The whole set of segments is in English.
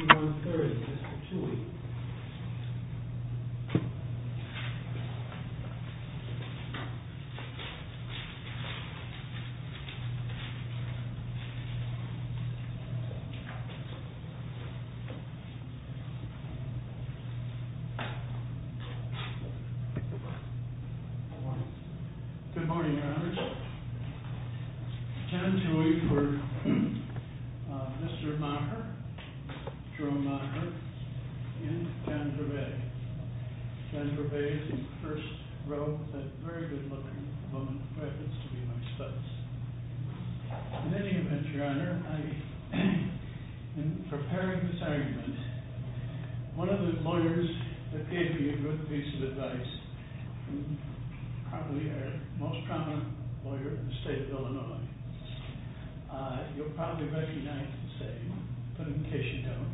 June 30, Mr. Tewi. Good morning, Your Honor. Ken Tewi for Mr. MAHER, Jerome MAHER, and Jennifer Bay. Jennifer Bay is in the first row, that very good-looking woman who happens to be my spouse. In any event, Your Honor, in preparing this argument, one of the lawyers that gave me a good piece of advice, and probably our most prominent lawyer in the state of Illinois, you'll probably recognize and say, put him in case you don't,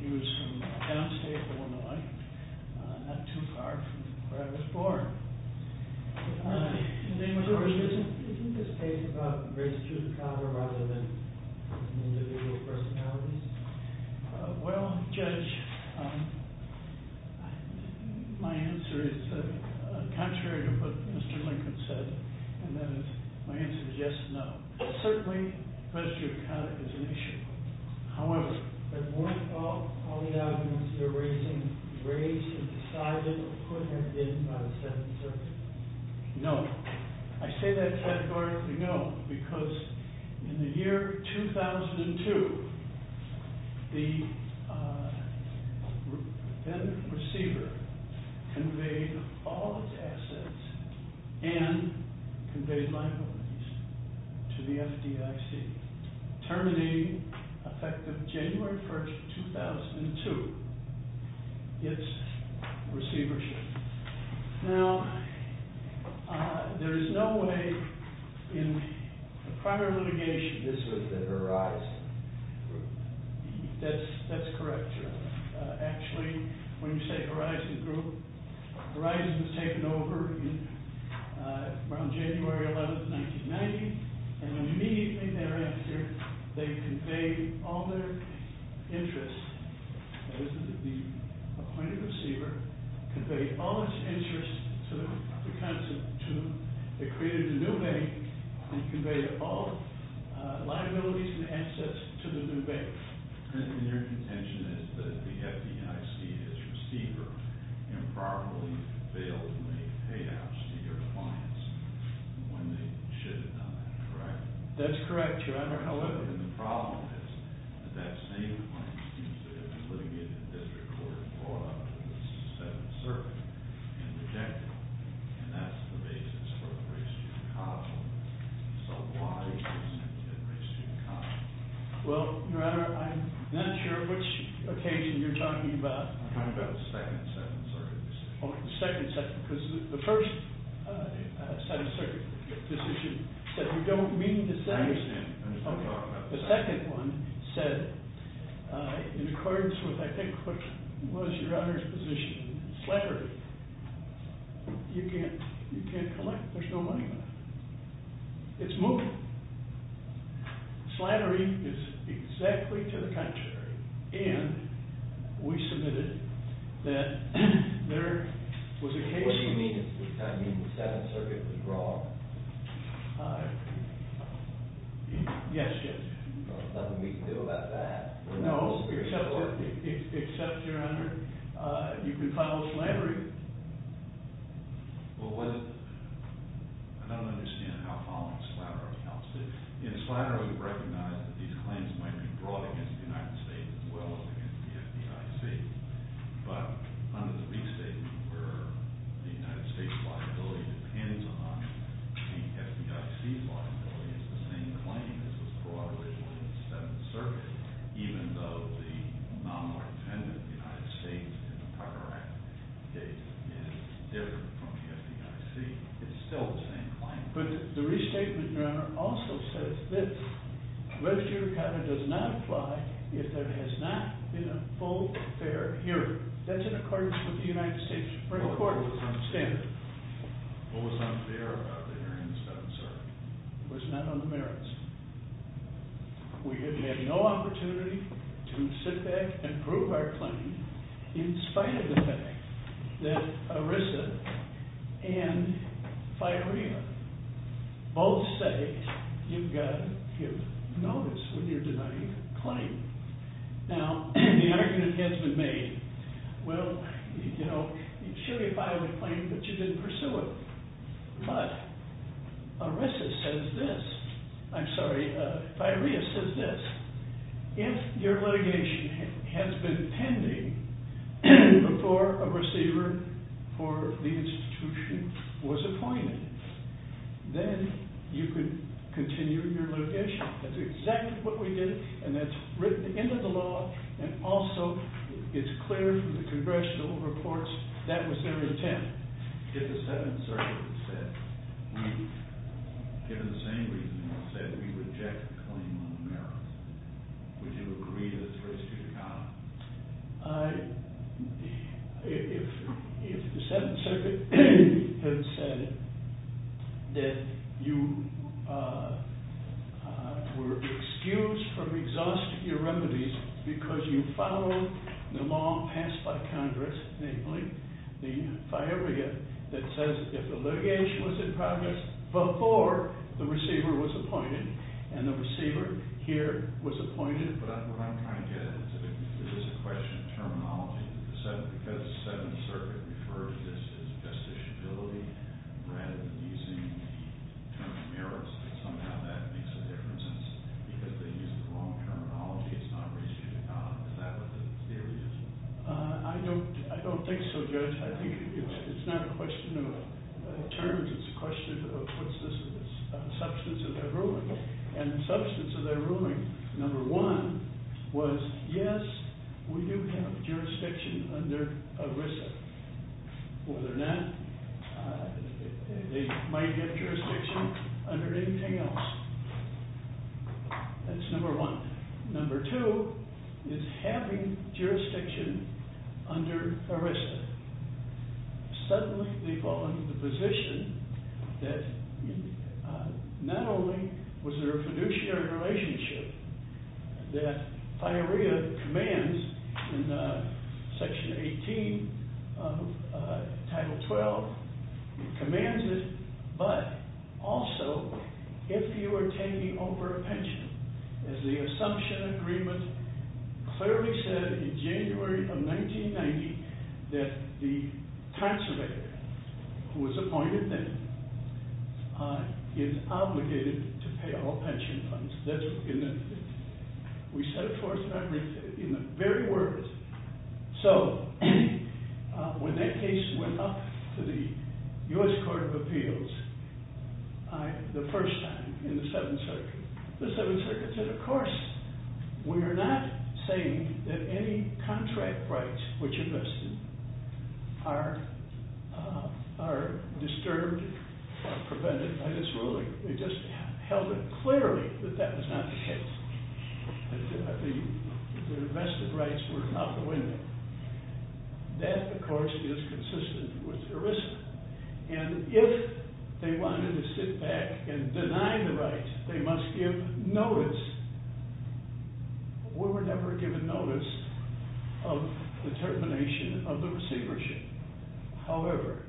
he was from downstate Illinois, not too far from where I was born. Isn't this case about race, gender, and color rather than individual personalities? Well, Judge, my answer is contrary to what Mr. Lincoln said, and that is, my answer is yes and no. Certainly, the question of color is an issue. However, weren't all the arguments that were raised and decided could have been by the 7th Circuit? No. I say that categorically no, because in the year 2002, the defendant receiver conveyed all his assets and conveyed my belongings to the FDIC, terminating, effective January 1st, 2002, its receivership. Now, there is no way in prior litigation... This was the Horizon Group. That's correct, Your Honor. Actually, when you say Horizon Group, Horizon was taken over around January 11th, 1990, and immediately thereafter, they conveyed all their interests. That is, the appointed receiver conveyed all his interests to them, they created a new bank, and conveyed all liabilities and assets to the new bank. And your contention is that the FDIC, as receiver, improperly failed to make payouts to your clients when they should have done that, correct? That's correct, Your Honor. However, the problem is that that same claim seems to have been litigated in the District Court and brought up in the 7th Circuit and rejected. And that's the basis for the race-to-custom. So why is this intended race-to-custom? Well, Your Honor, I'm not sure which occasion you're talking about. I'm talking about the second 7th Circuit decision. Oh, the second 7th. Because the first 7th Circuit decision said, I don't mean to dissent. The second one said, in accordance with, I think, what was Your Honor's position, slattery. You can't collect. There's no money left. It's moving. Slattery is exactly to the contrary. And we submitted that there was a case... Yes, yes. Well, there's nothing we can do about that. No, except, Your Honor, you can file slattery. Well, I don't understand how filing slattery helps. In slattery, we recognize that these claims might be brought against the United States as well as against the FDIC. But under the B Statement, where the United States' liability depends on the FDIC's liability, it's the same claim as was brought against the 7th Circuit, even though the nominal dependent of the United States in the Carter Act case is different from the FDIC. It's still the same claim. But the restatement, Your Honor, also says this. The restatement does not apply if there has not been a full, fair hearing. That's in accordance with the United States Supreme Court's standard. What was not fair about the hearing in the 7th Circuit? It was not on the merits. We have had no opportunity to sit back and prove our claim in spite of the fact that ERISA and FIREMA both say you've got to give notice when you're denying a claim. Now, the argument has been made. Well, you know, surely if I would claim that you didn't pursue it. But ERISA says this. I'm sorry, FIREMA says this. If your litigation has been pending before a receiver for the institution was appointed, then you could continue your litigation. That's exactly what we did. And that's written into the law. And also it's clear from the congressional reports that was their intent. If the 7th Circuit had said, given the same reasoning, said we reject the claim on the merits, would you agree to the First Judicata? If the 7th Circuit had said that you were excused from exhausting your remedies because you followed the law passed by Congress, namely the FIREMA, that says if the litigation was in progress before the receiver was appointed, and the receiver here was appointed. But what I'm trying to get at is there is a question of terminology because the 7th Circuit refers to this as justiciability rather than using the term merits. Somehow that makes a difference because they use the wrong terminology. It's not restriction. Is that what the theory is? I don't think so, Judge. I think it's not a question of terms. It's a question of what's the substance of their ruling. And the substance of their ruling, number one, was yes, we do have jurisdiction under ERISA. Whether or not they might get jurisdiction under anything else. That's number one. Number two is having jurisdiction under ERISA. Suddenly they fall into the position that not only was there a fiduciary relationship that FIREMA commands in Section 18 of Title 12, commands it, but also if you are taking over a pension. As the Assumption Agreement clearly said in January of 1990 that the conservator who was appointed then is obligated to pay all pension funds. We set it forth in the very words. So when that case went up to the U.S. Court of Appeals the first time in the Seventh Circuit, the Seventh Circuit said, of course, we are not saying that any contract rights which are vested are disturbed or prevented by this ruling. They just held it clearly that that was not the case. The vested rights were out the window. That, of course, is consistent with ERISA. And if they wanted to sit back and deny the rights, they must give notice. We were never given notice of the termination of the receivership. However,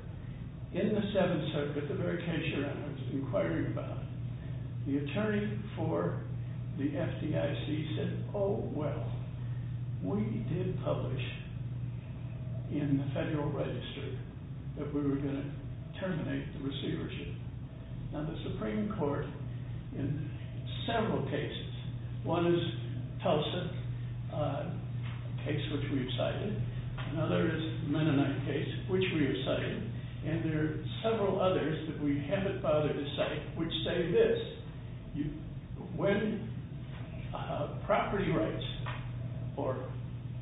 in the Seventh Circuit, with the very tension I was inquiring about, the attorney for the FDIC said, oh, well, we did publish in the Federal Register that we were going to terminate the receivership. Now, the Supreme Court in several cases, one is Tulsa, a case which we have cited, another is the Mennonite case, which we have cited, and there are several others that we haven't bothered to cite, which say this, when property rights, or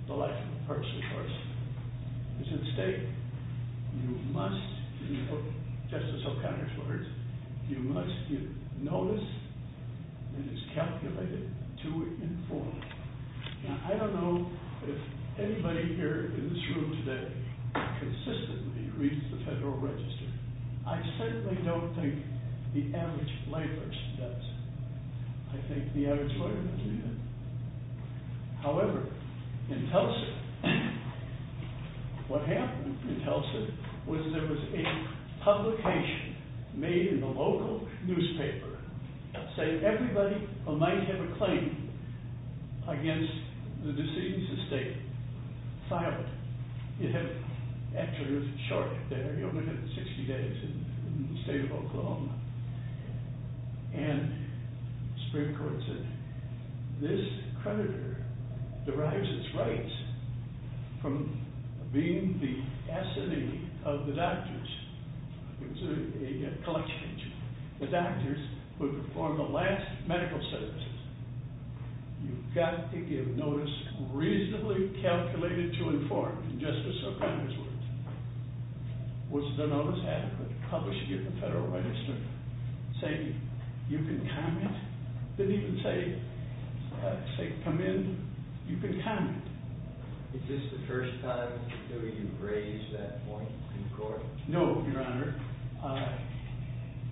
the life of a person, of course, is at stake, you must, in Justice O'Connor's words, you must give notice that it's calculated to inform. Now, I don't know if anybody here in this room today consistently reads the Federal Register. I certainly don't think the average layperson does. I think the average lawyer doesn't do that. However, in Tulsa, what happened in Tulsa was there was a publication made in the local newspaper saying everybody who might have a claim against the decision to stay silent. Actually, there's a chart there. You'll look at it in 60 days in the state of Oklahoma. And the Supreme Court said, this creditor derives its rights from being the S&E of the doctors. It was a collection agency. The doctors would perform the last medical services. You've got to give notice reasonably calculated to inform, in Justice O'Connor's words. Was the notice adequate? Published it in the Federal Register, saying you can comment. Didn't even say come in. You can comment. Is this the first time that you've raised that point in court? No, Your Honor.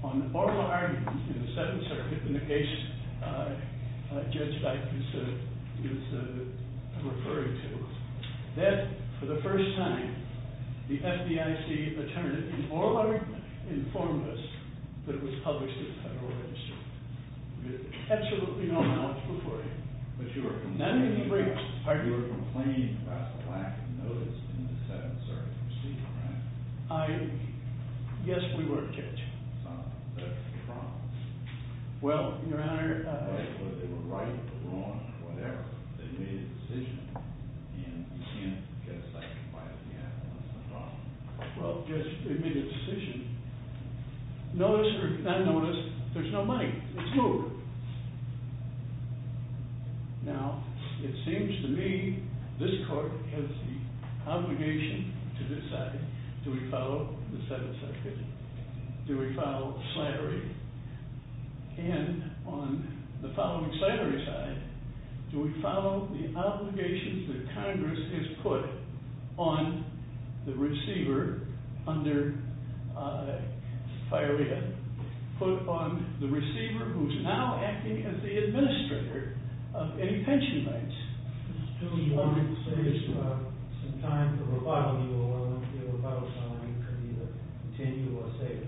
On the oral argument in the Seventh Circuit, the negation, Judge Dike is referring to, that for the first time, the FDIC attorney in oral argument informed us that it was published in the Federal Register. There's absolutely no knowledge before you. But you were condemning the briefs. You were complaining about the lack of notice in the Seventh Circuit proceeding, right? I guess we were catching something. That's the problem. Well, Your Honor. They were right or wrong, whatever. They made a decision. And you can't guess, like, why it would be happening. That's the problem. Well, yes, they made a decision. Notice or not notice, there's no money. It's over. Now, it seems to me, this court has the obligation to decide do we follow the Seventh Circuit? Do we follow Slattery? And on the following Slattery side, do we follow the obligations that Congress has put on the receiver under FIREA, put on the receiver who's now acting as the administrator of any pension banks? Mr. Stewart, do you want to say if you have some time for rebuttal? You will want to make a rebuttal so that you can either continue or say it.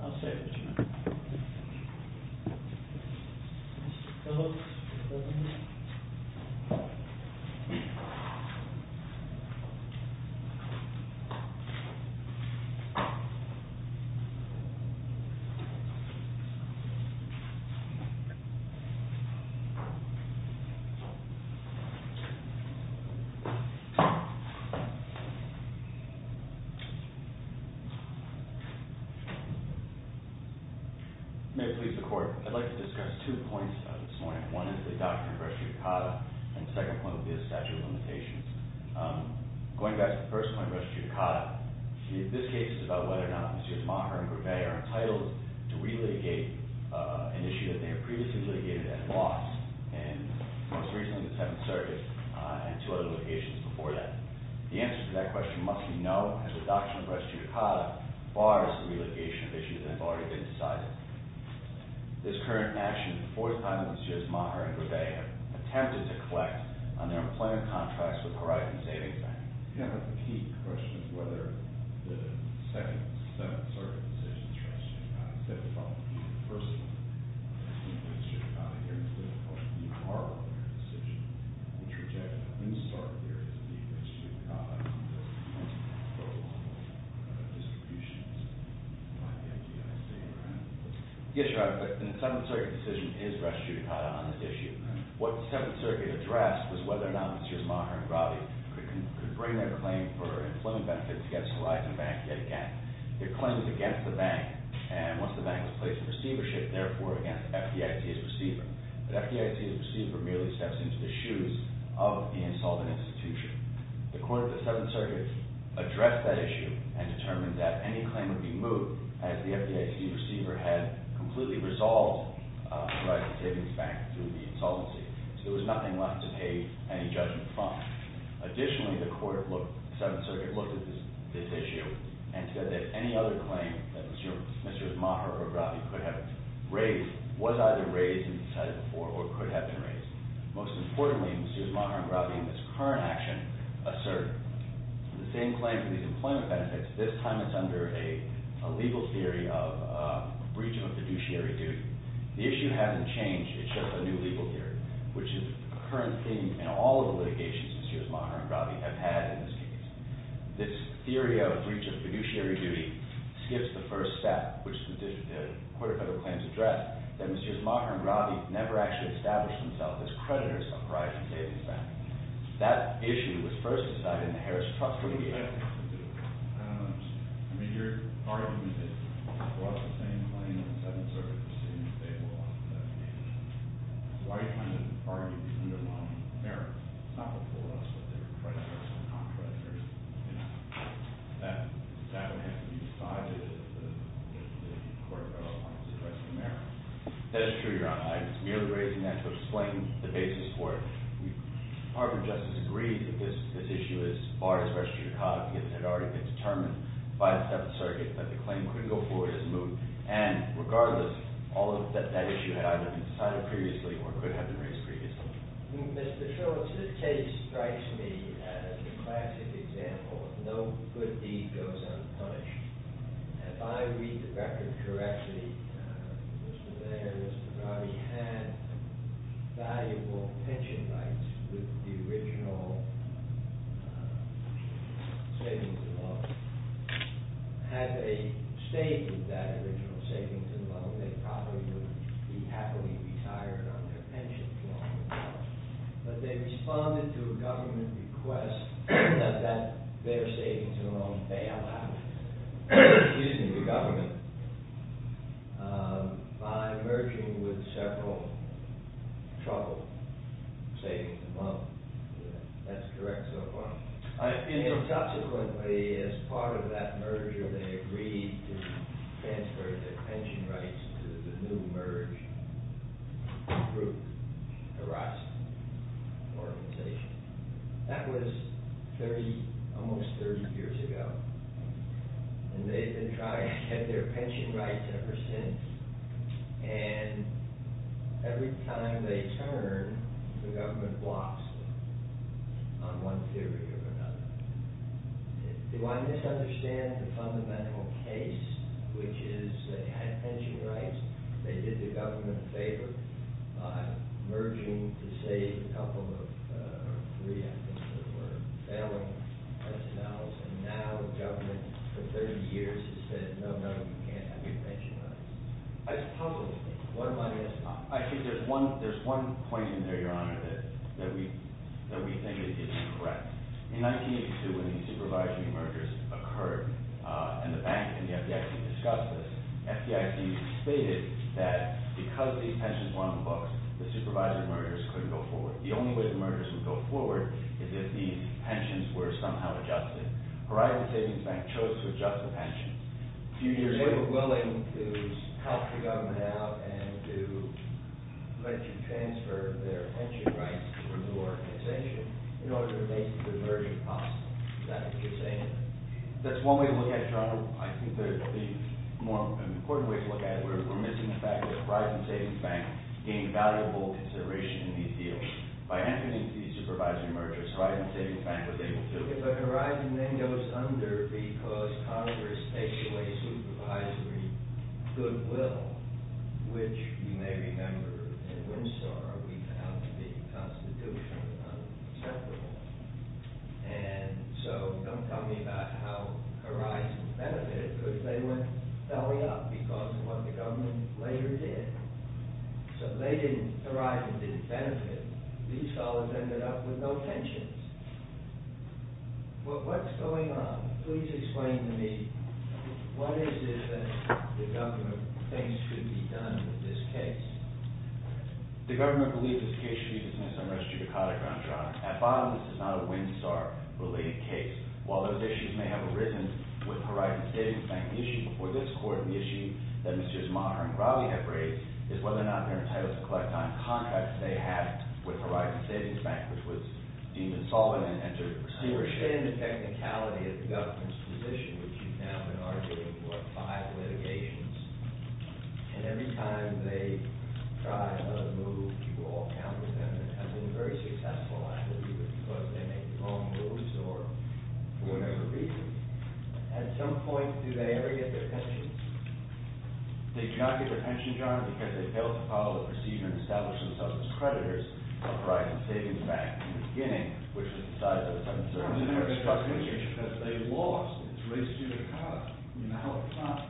I'll say it, Your Honor. Mr. Phillips. May it please the Court. I'd like to discuss two points this morning. One is the doctrine of res judicata and the second point would be the statute of limitations. Going back to the first point, res judicata, this case is about whether or not Mr. Tomaha and Gourvet are entitled to relitigate an issue that they have previously litigated and lost. And most recently the Seventh Circuit and two other litigations before that. The answer to that question must be no as the doctrine of res judicata bars the relitigation of issues that have already been decided. This current action is the fourth time that Mr. Tomaha and Gourvet have attempted to collect on their employment contracts with Verizon Savings Bank. Do you have a peak question of whether the Second and Seventh Circuits decision is res judicata on this issue? What the Seventh Circuit addressed was whether or not Mr. Tomaha and Gourvet could bring their claim for employment benefits against Verizon Bank yet again. Their claim was against the bank and once the bank was placed in receivership therefore against FDIC's receiver. But FDIC's receiver merely steps into the shoes of the insolvent institution. The court of the Seventh Circuit addressed that issue and determined that any claim would be moved as the FDIC receiver had completely resolved Verizon Savings Bank through the insolvency. So there was nothing left to pay any judgment fine. Additionally, the court looked, the Seventh Circuit looked at this issue and said that any other claim that Mr. Tomaha or Gourvet could have raised was either raised in the Seventh Circuit before or could have been raised. Most importantly, Mr. Tomaha and Gourvet in this current action assert the same claim for these employment benefits, this time it's under a legal theory of a breach of fiduciary duty. The issue hasn't changed, it's just a new legal theory which is the current theme in all of the litigations Mr. Tomaha and Gourvet have had in this case. This theory of breach of fiduciary duty skips the first step which the court of federal claims addressed that Mr. Tomaha and Gourvet never actually established themselves as creditors of Verizon Savings Bank. That issue was first decided in the Harris Trust litigation. I mean, you're arguing that across the same claim in the Seventh Circuit proceeding that they lost the litigation. Why are you trying to argue that you're underlining the merit? It's not before us that they were creditors and not creditors. That would have to be decided if the court of federal claims addressed the merit. That is true, Your Honor. I was merely raising that to explain the basis for it. Harvard Justice agreed that this issue is far from being an issue that requires restitution of copies because it had already been determined by the Seventh Circuit that the claim couldn't go forward as a moot. And regardless, all of that issue had either been decided previously or could have been raised previously. Mr. Shultz, this case strikes me as a classic example of no good deed goes unpunished. If I read the record correctly, Mr. Mayer and Mr. Grawley had valuable pension rights with the original savings and loan. Had they stayed with that original savings and loan, they probably would be happily retired on their pension for a long time. But they responded to a government request that their savings and loan fail out using the government by merging with several troubled savings and loan. That's correct so far. Subsequently, as part of that merger, they agreed to transfer their pension rights to the new merge group, the Rust Organization. That was almost 30 years ago. And they've been trying to get their pension rights ever since. And every time they turn, the government blocks them on one theory or another. Do I misunderstand the fundamental case, which is they had pension rights, they did the government a favor by merging to save a couple of, or three, I think, that were failing themselves, and now the government, for 30 years, has said, no, no, you can't have your pension rights. I think there's one point in there, Your Honor, that we think is correct. In 1982, when these supervisory mergers occurred, and the bank and the FDIC discussed this, FDIC stated that because these pensions were on the books, the supervisory mergers couldn't go forward. The only way the mergers would go forward is if these pensions were somehow adjusted. Horizon Savings Bank chose to adjust the pensions. They were willing to help the government out and to eventually transfer their pension rights to a new organization in order to make the merger possible. Is that what you're saying? That's one way to look at it, Your Honor. I think there are more important ways to look at it. We're missing the fact that Horizon Savings Bank gained valuable consideration in these deals. By entering into these supervisory mergers, Horizon Savings Bank was able to do it. But Horizon then goes under because Congress takes away supervisory goodwill, which you may remember in Winstar we found to be constitutionally unacceptable. And so don't tell me about how Horizon benefited because they went belly up because of what the government later did. So Horizon didn't benefit. These fellows ended up with no pensions. Well, what's going on? Please explain to me what is it that the government thinks should be done with this case? The government believes this case should be dismissed on res judicata grounds, Your Honor. At bottom, this is not a Winstar-related case. While those issues may have arisen with Horizon Savings Bank, the issue before this Court, the issue that Mr. Zmar and Raleigh have raised is whether or not their entitlement to collect on contracts they had with Horizon Savings Bank, which was deemed insolvent and entered stewardship. I understand the technicality of the government's position, which you've now been arguing for five litigations. And every time they try another move, people all counter them. And it has been a very successful activity because they make the wrong moves or for whatever reason. At some point, do they ever get their pensions? They do not get their pensions, Your Honor, because they failed to follow the procedure and establish themselves as creditors of Horizon Savings Bank in the beginning, which is the size of a seven-story building. But they lost. It's res judicata. You know how it's done.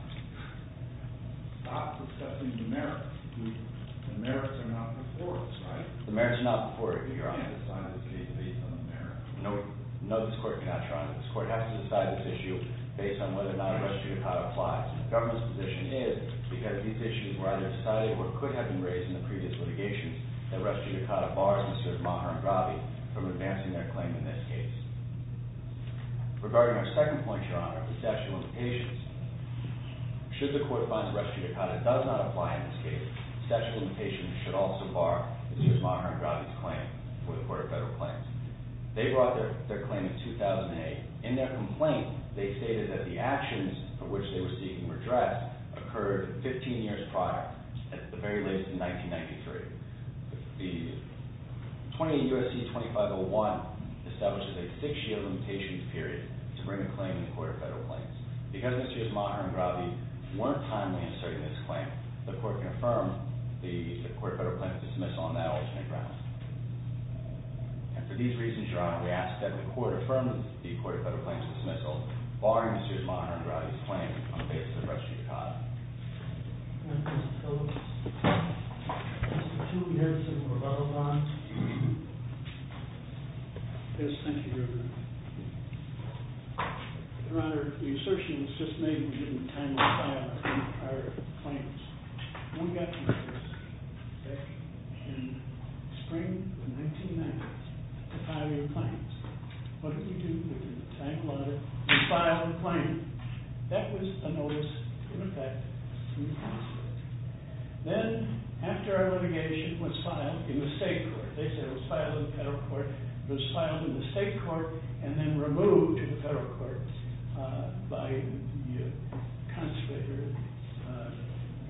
Stop assessing the merits. The merits are not before us, right? The merits are not before you, Your Honor. You can't decide this case based on the merits. No, this Court cannot, Your Honor. This Court has to decide this issue based on whether or not res judicata applies. The government's position is because these issues were either decided or could have been raised in the previous litigation that res judicata bars Mr. Maharmgrabi from advancing their claim in this case. Regarding our second point, Your Honor, the statute of limitations, should the Court find that res judicata does not apply in this case, the statute of limitations should also bar Mr. Maharmgrabi's claim for the Court of Federal Claims. They brought their claim in 2008. In their complaint, they stated that the actions of which they were seeking redress occurred 15 years prior, at the very least, in 1993. The 28 U.S.C. 2501 establishes a six-year limitations period to bring a claim in the Court of Federal Claims. Because Mr. Maharmgrabi weren't timely in asserting this claim, the Court can affirm the Court of Federal Claims dismissal on that alternate grounds. And for these reasons, Your Honor, we ask that the Court affirm the Court of Federal Claims dismissal barring Mr. Maharmgrabi's claim on the basis of res judicata. Thank you, Mr. Phillips. Mr. Timothy Erickson, Revolver Law. Yes, thank you, Your Honor. Your Honor, the assertion was just made that we didn't timely file our claims. When we got the notice back in spring of 1990 to file your claims, what did we do? We didn't timely file the claim. That was the notice in effect. Then, after our litigation was filed in the state court, they said it was filed in the federal court, it was filed in the state court and then removed to the federal court by the constituent.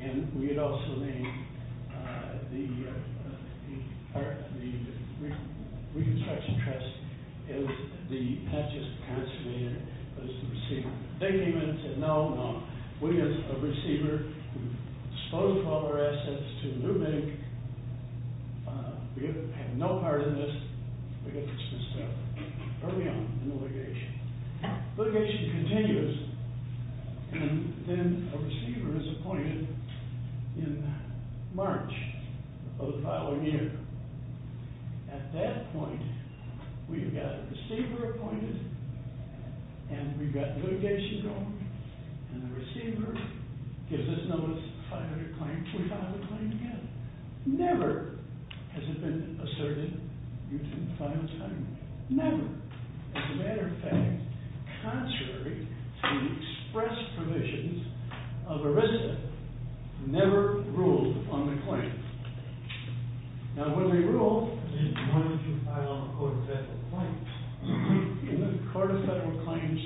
And we had also named the reconstruction trust as not just the constituent, but as the receiver. They came in and said, no, no, we as a receiver have disposed of all our assets to a new bank. We have no part in this. We have to dismiss it early on in the litigation. Litigation continues and then a receiver is appointed in March of the following year. At that point, we've got a receiver appointed and we've got litigation going and the receiver gives us notice to file your claim, we file the claim together. Never has it been asserted you didn't file the claim. Never. As a matter of fact, contrary to the express provisions of ERISA, never ruled on the claim. Now when they ruled, they wanted to file a court of federal claims. In the court of federal claims,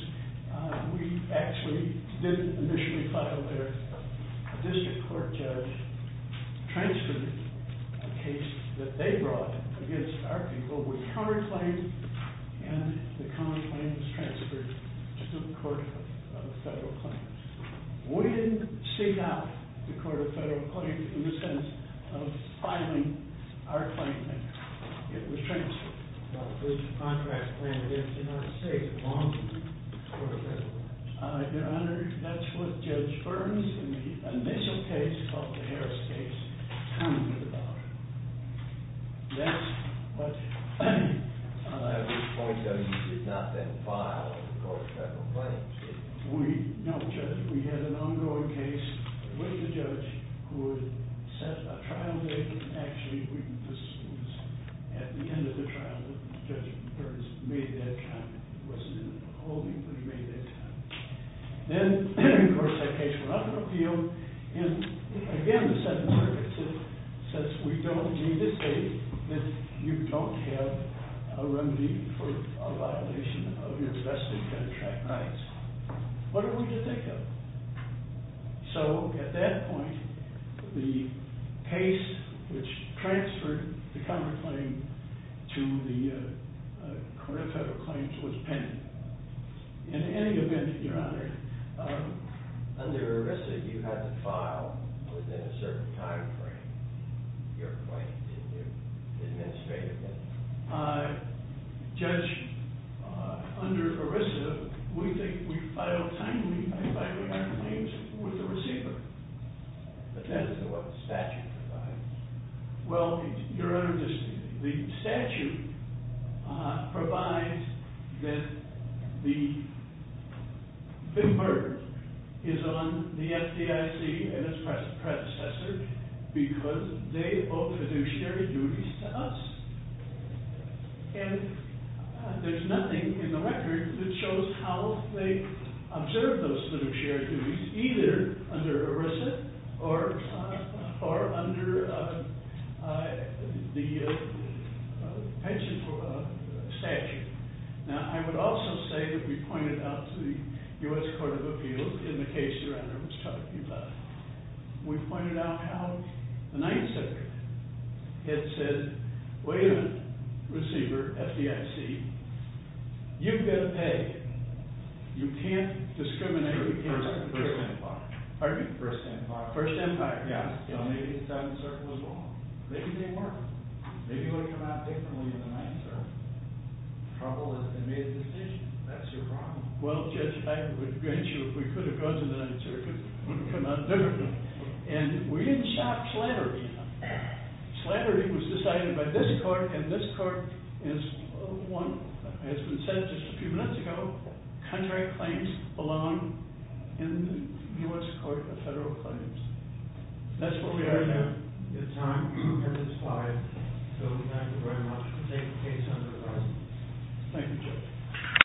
we actually didn't initially file there. A district court judge transferred a case that they brought against our people with counterclaims and the counterclaims transferred to the court of federal claims. We didn't seek out the court of federal claims in the sense of filing our claim it was transferred. The contract was granted in the United States along with the court of federal claims. Your Honor, that's what Judge Burns in the initial case called the Harris case told me about. That's what... At this point, you did not then file the court of federal claims? No, Judge. We had an ongoing case with the judge who had set a trial date and actually, this was at the end of the trial that Judge Burns made that comment. It wasn't in the holding but he made that comment. Then, of course, that case went up in appeal and again, the second verdict says we don't need to say that you don't have a remedy for a violation of your vested contract rights. What are we to think of? So, at that point, the case which transferred the counterclaim to the court of federal claims was pending. In any event, Your Honor... Under ERISA, you had to file within a certain time frame your claim in your administrative case. Judge, under ERISA, we filed timely by filing our claims with the receiver. But that is not what the statute provides. Well, Your Honor, the statute provides that the big burden is on the FDIC and its predecessor because they owe fiduciary duties to us. And there's nothing in the record that shows how they observed those fiduciary duties either under ERISA or under the pension statute. Now, I would also say that we pointed out to the U.S. Court of Appeals in the case Your Honor was talking about, we pointed out how the Ninth Circuit had said, wait a minute, receiver, FDIC, you've got to pay. You can't discriminate against the First Empire. Pardon me? First Empire. First Empire, yes. Maybe it's out in the circuit as well. Maybe they weren't. Maybe it would have come out differently in the Ninth Circuit. Trouble is, they made a decision. That's your problem. Well, Judge, I would grant you if we could have gone to the Ninth Circuit, it would have come out differently. And we didn't shop slavery. Slavery was decided by this court and this court is, one, as we said just a few minutes ago, contrary claims belong in the U.S. Court of Federal Claims. That's where we are now. It's time for this slide. So we thank you very much for taking the case under review. Thank you, Judge.